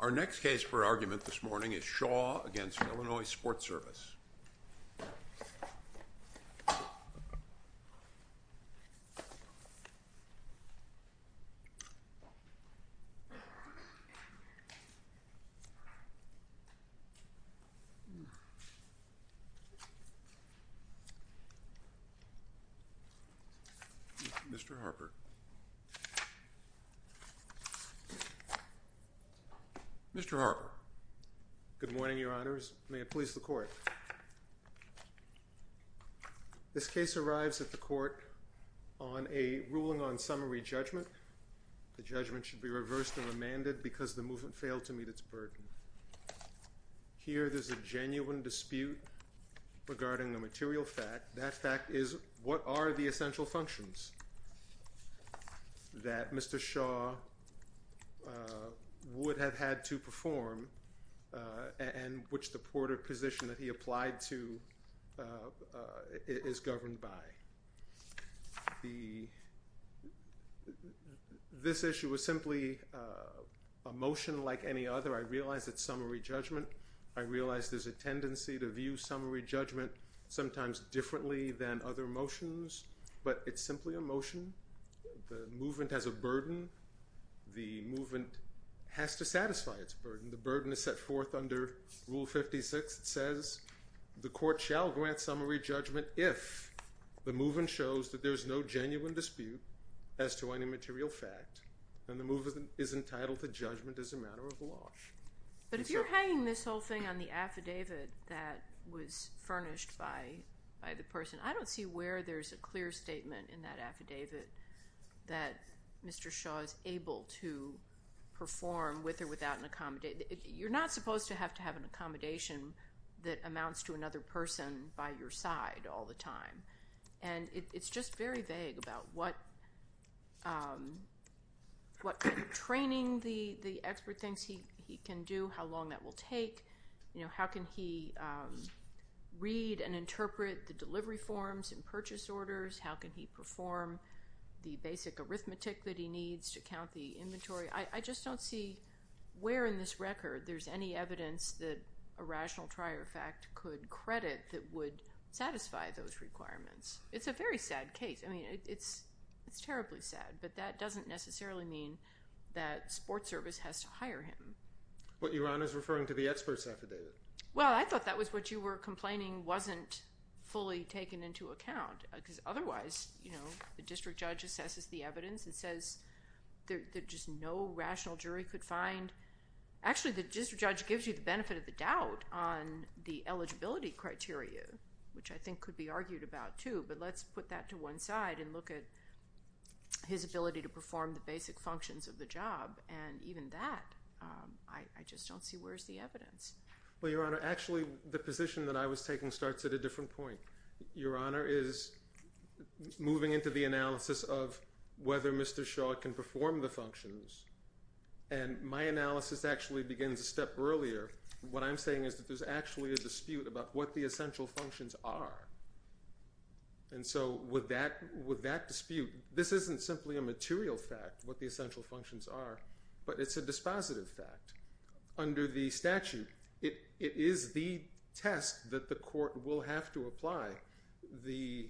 Our next case for argument this morning is Shaw v. Illinois SportService, Inc. Mr. Harper. Mr. Harper. Good morning, Your Honors. May it please the Court. This case arrives at the Court on a ruling on summary judgment. The judgment should be reversed and remanded because the movement failed to meet its burden. Here there's a genuine dispute regarding the material fact. That fact is, what are the essential functions that Mr. Shaw would have had to perform and which the ported position that he applied to is governed by? This issue was simply a motion like any other. I realize it's summary judgment. I realize there's a tendency to view summary judgment sometimes differently than other motions, but it's simply a motion. The movement has a burden. The movement has to satisfy its burden. The burden is set forth under Rule 56. It says the Court shall grant summary judgment if the movement shows that there's no genuine dispute as to any material fact and the movement is entitled to judgment as a matter of law. But if you're hanging this whole thing on the affidavit that was furnished by the person, I don't see where there's a clear statement in that affidavit that Mr. Shaw is able to perform with or without an accommodation. You're not supposed to have to have an accommodation that amounts to another person by your side all the time. It's just very vague about what kind of training the expert thinks he can do, how long that will take. How can he read and interpret the delivery forms and purchase orders? How can he perform the basic arithmetic that he needs to count the inventory? I just don't see where in this record there's any evidence that a rational trier of fact could credit that would satisfy those requirements. It's a very sad case. I mean, it's terribly sad, but that doesn't necessarily mean that sports service has to hire him. What you're on is referring to the expert's affidavit. Well, I thought that was what you were complaining wasn't fully taken into account. Because otherwise, you know, the district judge assesses the evidence and says there's just no rational jury could find. Actually, the district judge gives you the benefit of the doubt on the eligibility criteria, which I think could be argued about too. But let's put that to one side and look at his ability to perform the basic functions of the job. And even that, I just don't see where's the evidence. Well, Your Honor, actually, the position that I was taking starts at a different point. Your Honor is moving into the analysis of whether Mr. Shaw can perform the functions. And my analysis actually begins a step earlier. What I'm saying is that there's actually a dispute about what the essential functions are. And so with that dispute, this isn't simply a material fact, what the essential functions are, but it's a dispositive fact. Under the statute, it is the test that the court will have to apply. The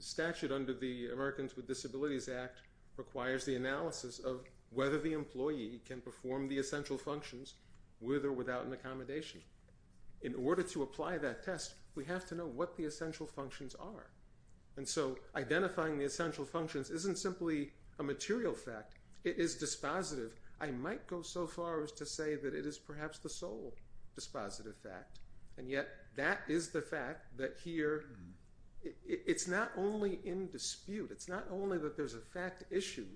statute under the Americans with Disabilities Act requires the analysis of whether the employee can perform the essential functions with or without an accommodation. In order to apply that test, we have to know what the essential functions are. And so identifying the essential functions isn't simply a material fact. It is dispositive. I might go so far as to say that it is perhaps the sole dispositive fact. And yet that is the fact that here it's not only in dispute. It's not only that there's a fact issue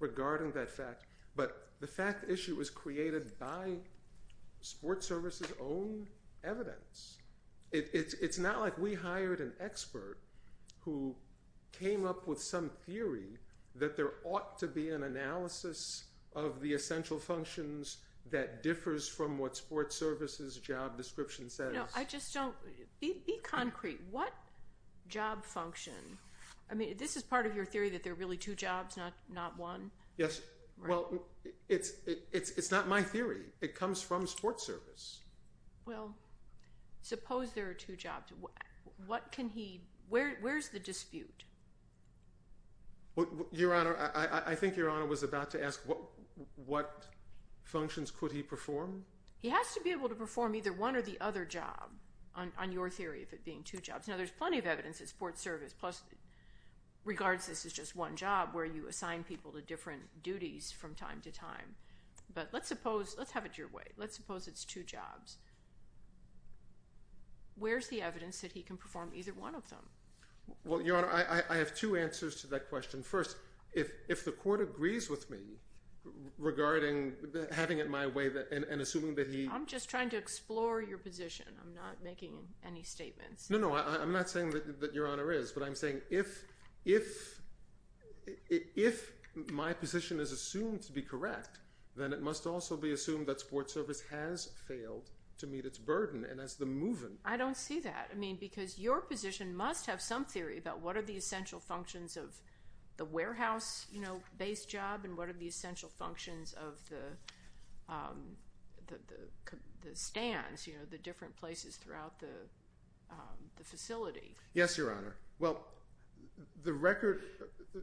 regarding that fact, but the fact issue was created by Sports Service's own evidence. It's not like we hired an expert who came up with some theory that there ought to be an analysis of the essential functions that differs from what Sports Service's job description says. No, I just don't—be concrete. What job function—I mean, this is part of your theory that there are really two jobs, not one? Yes. Well, it's not my theory. It comes from Sports Service. Well, suppose there are two jobs. What can he—where's the dispute? Your Honor, I think Your Honor was about to ask what functions could he perform? He has to be able to perform either one or the other job on your theory of it being two jobs. Now, there's plenty of evidence that Sports Service—plus regards this as just one job where you assign people to different duties from time to time. But let's suppose—let's have it your way. Let's suppose it's two jobs. Where's the evidence that he can perform either one of them? Well, Your Honor, I have two answers to that question. First, if the court agrees with me regarding having it my way and assuming that he— I'm just trying to explore your position. I'm not making any statements. No, no. I'm not saying that Your Honor is. But I'm saying if my position is assumed to be correct, then it must also be assumed that Sports Service has failed to meet its burden and has been moving. I don't see that. I mean, because your position must have some theory about what are the essential functions of the warehouse-based job and what are the essential functions of the stands, you know, the different places throughout the facility. Yes, Your Honor. Well, the record—there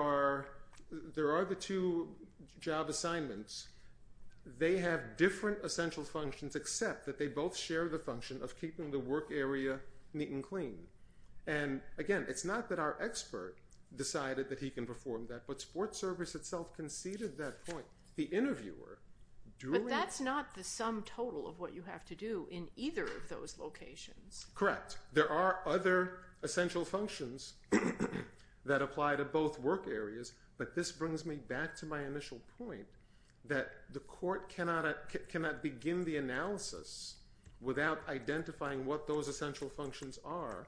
are the two job assignments. They have different essential functions except that they both share the function of keeping the work area neat and clean. And again, it's not that our expert decided that he can perform that, but Sports Service itself conceded that point. The interviewer during— But that's not the sum total of what you have to do in either of those locations. Correct. There are other essential functions that apply to both work areas, but this brings me back to my initial point that the court cannot begin the analysis without identifying what those essential functions are,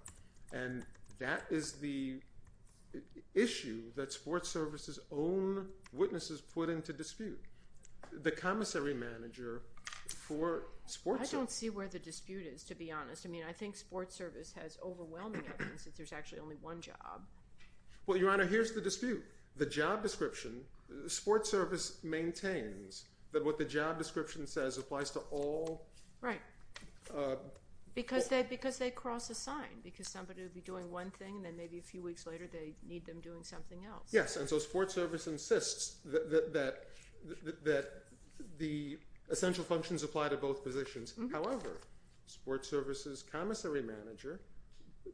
and that is the issue that Sports Service's own witnesses put into dispute. The commissary manager for Sports Service— I mean, I think Sports Service has overwhelming evidence that there's actually only one job. Well, Your Honor, here's the dispute. The job description—Sports Service maintains that what the job description says applies to all— Right. Because they cross-assign, because somebody will be doing one thing and then maybe a few weeks later they need them doing something else. Yes, and so Sports Service insists that the essential functions apply to both positions. However, Sports Service's commissary manager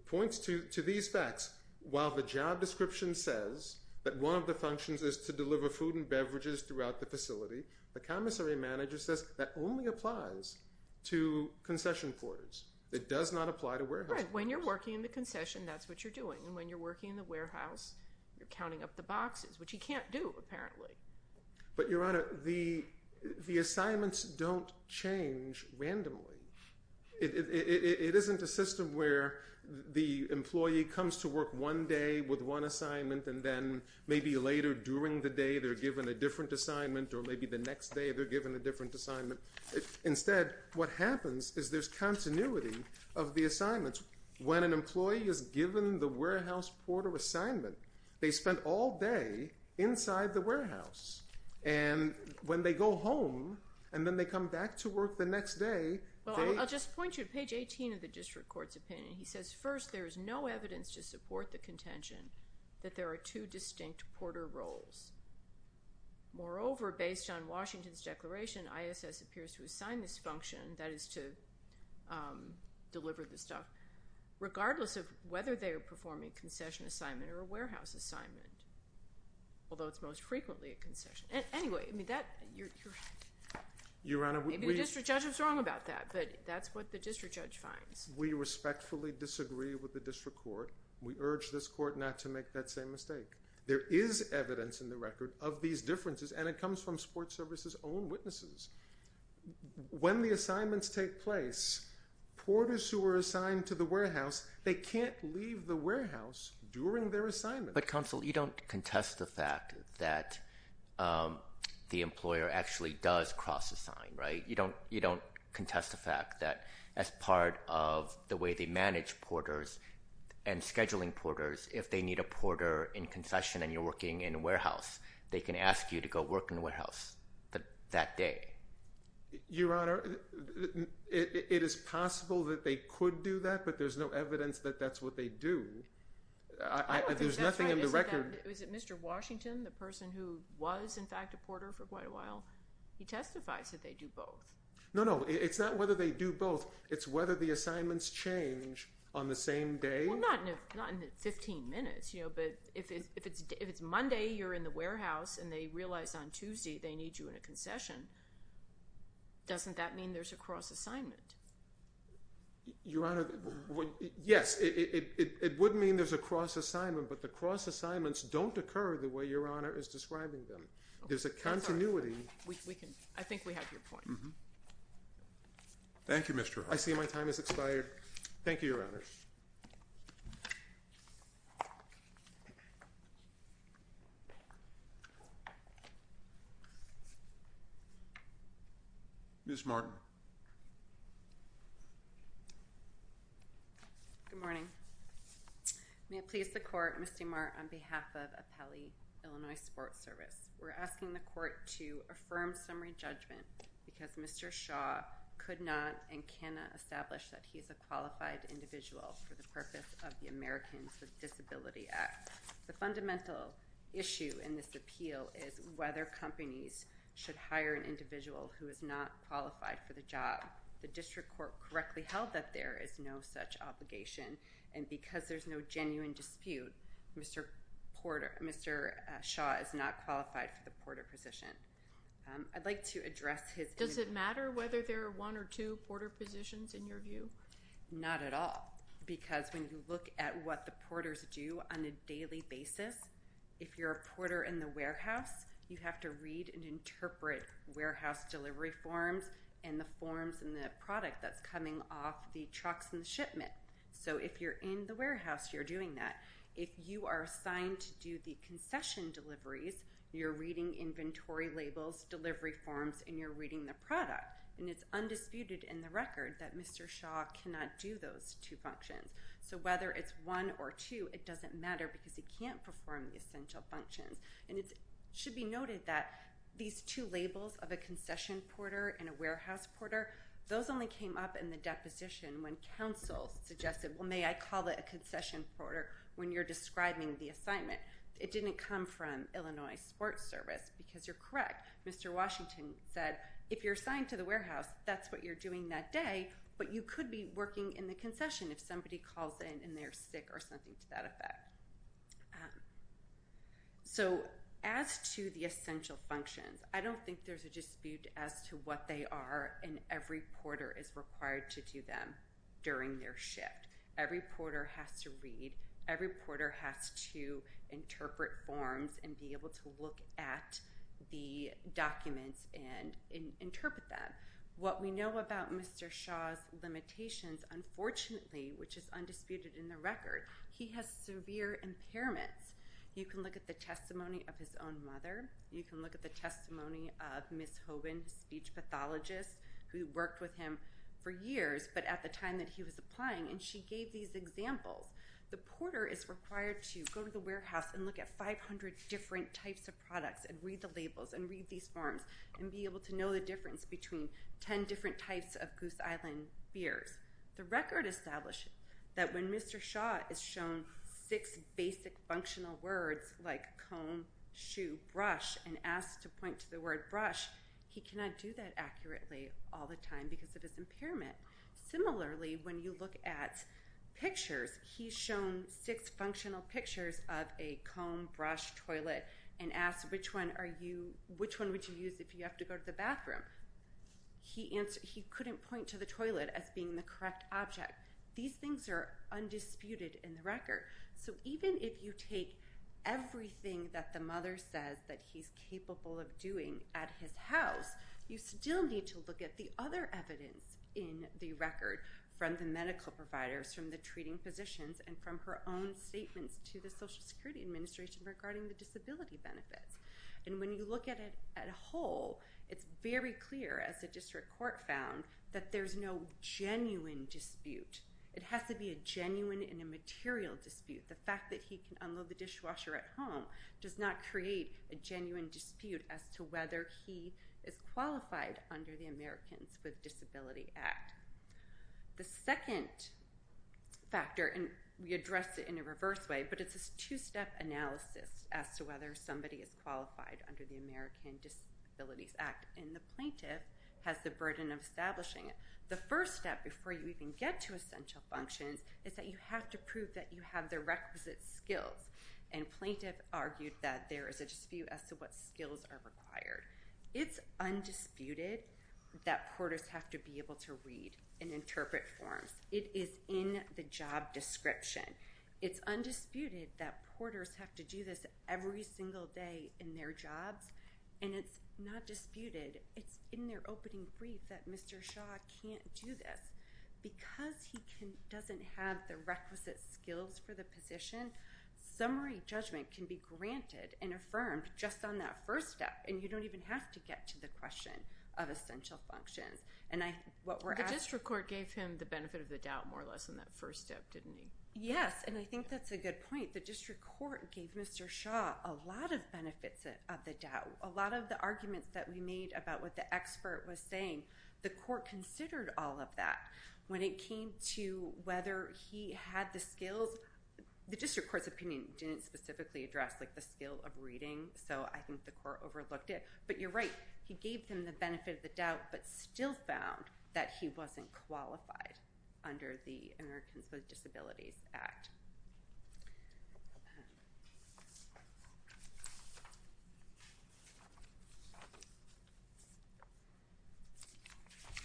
points to these facts. While the job description says that one of the functions is to deliver food and beverages throughout the facility, the commissary manager says that only applies to concession ports. It does not apply to warehouse ports. Right. When you're working in the concession, that's what you're doing, and when you're working in the warehouse, you're counting up the boxes, which you can't do, apparently. But, Your Honor, the assignments don't change randomly. It isn't a system where the employee comes to work one day with one assignment and then maybe later during the day they're given a different assignment or maybe the next day they're given a different assignment. Instead, what happens is there's continuity of the assignments. When an employee is given the warehouse porter assignment, they spend all day inside the warehouse. And when they go home and then they come back to work the next day, they… Well, I'll just point you to page 18 of the district court's opinion. He says, first, there is no evidence to support the contention that there are two distinct porter roles. Moreover, based on Washington's declaration, ISS appears to assign this function, that is, to deliver the stuff, regardless of whether they are performing a concession assignment or a warehouse assignment, although it's most frequently a concession. Anyway, I mean, that… Your Honor, we… Maybe the district judge was wrong about that, but that's what the district judge finds. We respectfully disagree with the district court. We urge this court not to make that same mistake. There is evidence in the record of these differences, and it comes from support services' own witnesses. When the assignments take place, porters who are assigned to the warehouse, they can't leave the warehouse during their assignment. But, counsel, you don't contest the fact that the employer actually does cross-assign, right? You don't contest the fact that as part of the way they manage porters and scheduling porters, if they need a porter in concession and you're working in a warehouse, they can ask you to go work in a warehouse that day. Your Honor, it is possible that they could do that, but there's no evidence that that's what they do. I don't think that's right. There's nothing in the record… Your Honor, is it Mr. Washington, the person who was, in fact, a porter for quite a while? He testifies that they do both. No, no. It's not whether they do both. It's whether the assignments change on the same day. Well, not in 15 minutes, you know, but if it's Monday, you're in the warehouse, and they realize on Tuesday they need you in a concession, doesn't that mean there's a cross-assignment? Your Honor, yes. It would mean there's a cross-assignment, but the cross-assignments don't occur the way Your Honor is describing them. There's a continuity. I think we have your point. Thank you, Mr. Hart. I see my time has expired. Thank you, Your Honor. Ms. Martin. Good morning. May it please the Court, Ms. DeMar, on behalf of Appellee, Illinois Sports Service, we're asking the Court to affirm summary judgment because Mr. Shaw could not and cannot establish that he's a qualified individual for the purpose of this hearing. The purpose of the Americans with Disabilities Act. The fundamental issue in this appeal is whether companies should hire an individual who is not qualified for the job. The district court correctly held that there is no such obligation, and because there's no genuine dispute, Mr. Shaw is not qualified for the porter position. I'd like to address his— Does it matter whether there are one or two porter positions in your view? Not at all, because when you look at what the porters do on a daily basis, if you're a porter in the warehouse, you have to read and interpret warehouse delivery forms and the forms and the product that's coming off the trucks and shipment. So if you're in the warehouse, you're doing that. If you are assigned to do the concession deliveries, you're reading inventory labels, delivery forms, and you're reading the product. And it's undisputed in the record that Mr. Shaw cannot do those two functions. So whether it's one or two, it doesn't matter because he can't perform the essential functions. And it should be noted that these two labels of a concession porter and a warehouse porter, those only came up in the deposition when counsel suggested, well, may I call it a concession porter when you're describing the assignment. It didn't come from Illinois Sports Service, because you're correct. Mr. Washington said if you're assigned to the warehouse, that's what you're doing that day, but you could be working in the concession if somebody calls in and they're sick or something to that effect. So as to the essential functions, I don't think there's a dispute as to what they are, and every porter is required to do them during their shift. Every porter has to read. Every porter has to interpret forms and be able to look at the documents and interpret them. What we know about Mr. Shaw's limitations, unfortunately, which is undisputed in the record, he has severe impairments. You can look at the testimony of his own mother. You can look at the testimony of Ms. Hoban, a speech pathologist who worked with him for years, but at the time that he was applying, and she gave these examples. The porter is required to go to the warehouse and look at 500 different types of products and read the labels and read these forms and be able to know the difference between 10 different types of Goose Island beers. The record established that when Mr. Shaw is shown six basic functional words like comb, shoe, brush, and asked to point to the word brush, he cannot do that accurately all the time because of his impairment. Similarly, when you look at pictures, he's shown six functional pictures of a comb, brush, toilet, and asked, which one would you use if you have to go to the bathroom? He couldn't point to the toilet as being the correct object. These things are undisputed in the record. So even if you take everything that the mother says that he's capable of doing at his house, you still need to look at the other evidence in the record from the medical providers, from the treating physicians, and from her own statements to the Social Security Administration regarding the disability benefits. And when you look at it whole, it's very clear, as the district court found, that there's no genuine dispute. It has to be a genuine and a material dispute. The fact that he can unload the dishwasher at home does not create a genuine dispute as to whether he is qualified under the Americans with Disabilities Act. The second factor, and we addressed it in a reverse way, but it's a two-step analysis as to whether somebody is qualified under the American Disabilities Act. And the plaintiff has the burden of establishing it. The first step before you even get to essential functions is that you have to prove that you have the requisite skills. And plaintiff argued that there is a dispute as to what skills are required. It's undisputed that porters have to be able to read and interpret forms. It is in the job description. It's undisputed that porters have to do this every single day in their jobs. And it's not disputed. It's in their opening brief that Mr. Shaw can't do this. Because he doesn't have the requisite skills for the position, summary judgment can be granted and affirmed just on that first step, and you don't even have to get to the question of essential functions. And what we're asking— The district court gave him the benefit of the doubt more or less in that first step, didn't he? Yes, and I think that's a good point. I think the district court gave Mr. Shaw a lot of benefits of the doubt. A lot of the arguments that we made about what the expert was saying, the court considered all of that. When it came to whether he had the skills, the district court's opinion didn't specifically address, like, the skill of reading, so I think the court overlooked it. But you're right. He gave them the benefit of the doubt but still found that he wasn't qualified under the Americans with Disabilities Act.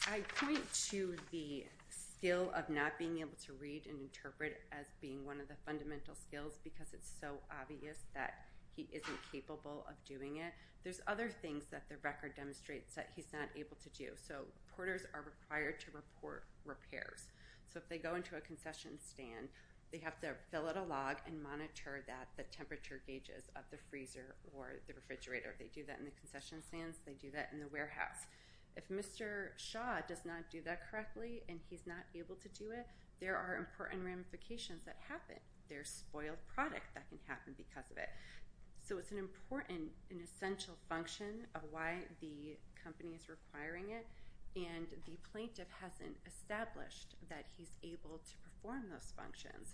I point to the skill of not being able to read and interpret as being one of the fundamental skills because it's so obvious that he isn't capable of doing it. There's other things that the record demonstrates that he's not able to do. So reporters are required to report repairs. So if they go into a concession stand, they have to fill out a log and monitor the temperature gauges of the freezer or the refrigerator. They do that in the concession stands. They do that in the warehouse. If Mr. Shaw does not do that correctly and he's not able to do it, there are important ramifications that happen. There's spoiled product that can happen because of it. So it's an important and essential function of why the company is requiring it, and the plaintiff hasn't established that he's able to perform those functions.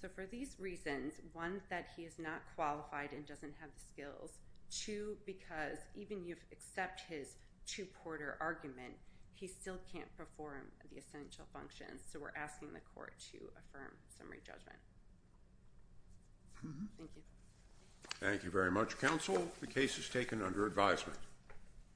So for these reasons, one, that he is not qualified and doesn't have the skills, two, because even if you accept his two-porter argument, he still can't perform the essential functions, so we're asking the court to affirm summary judgment. Thank you. Thank you very much, counsel. The case is taken under advisement.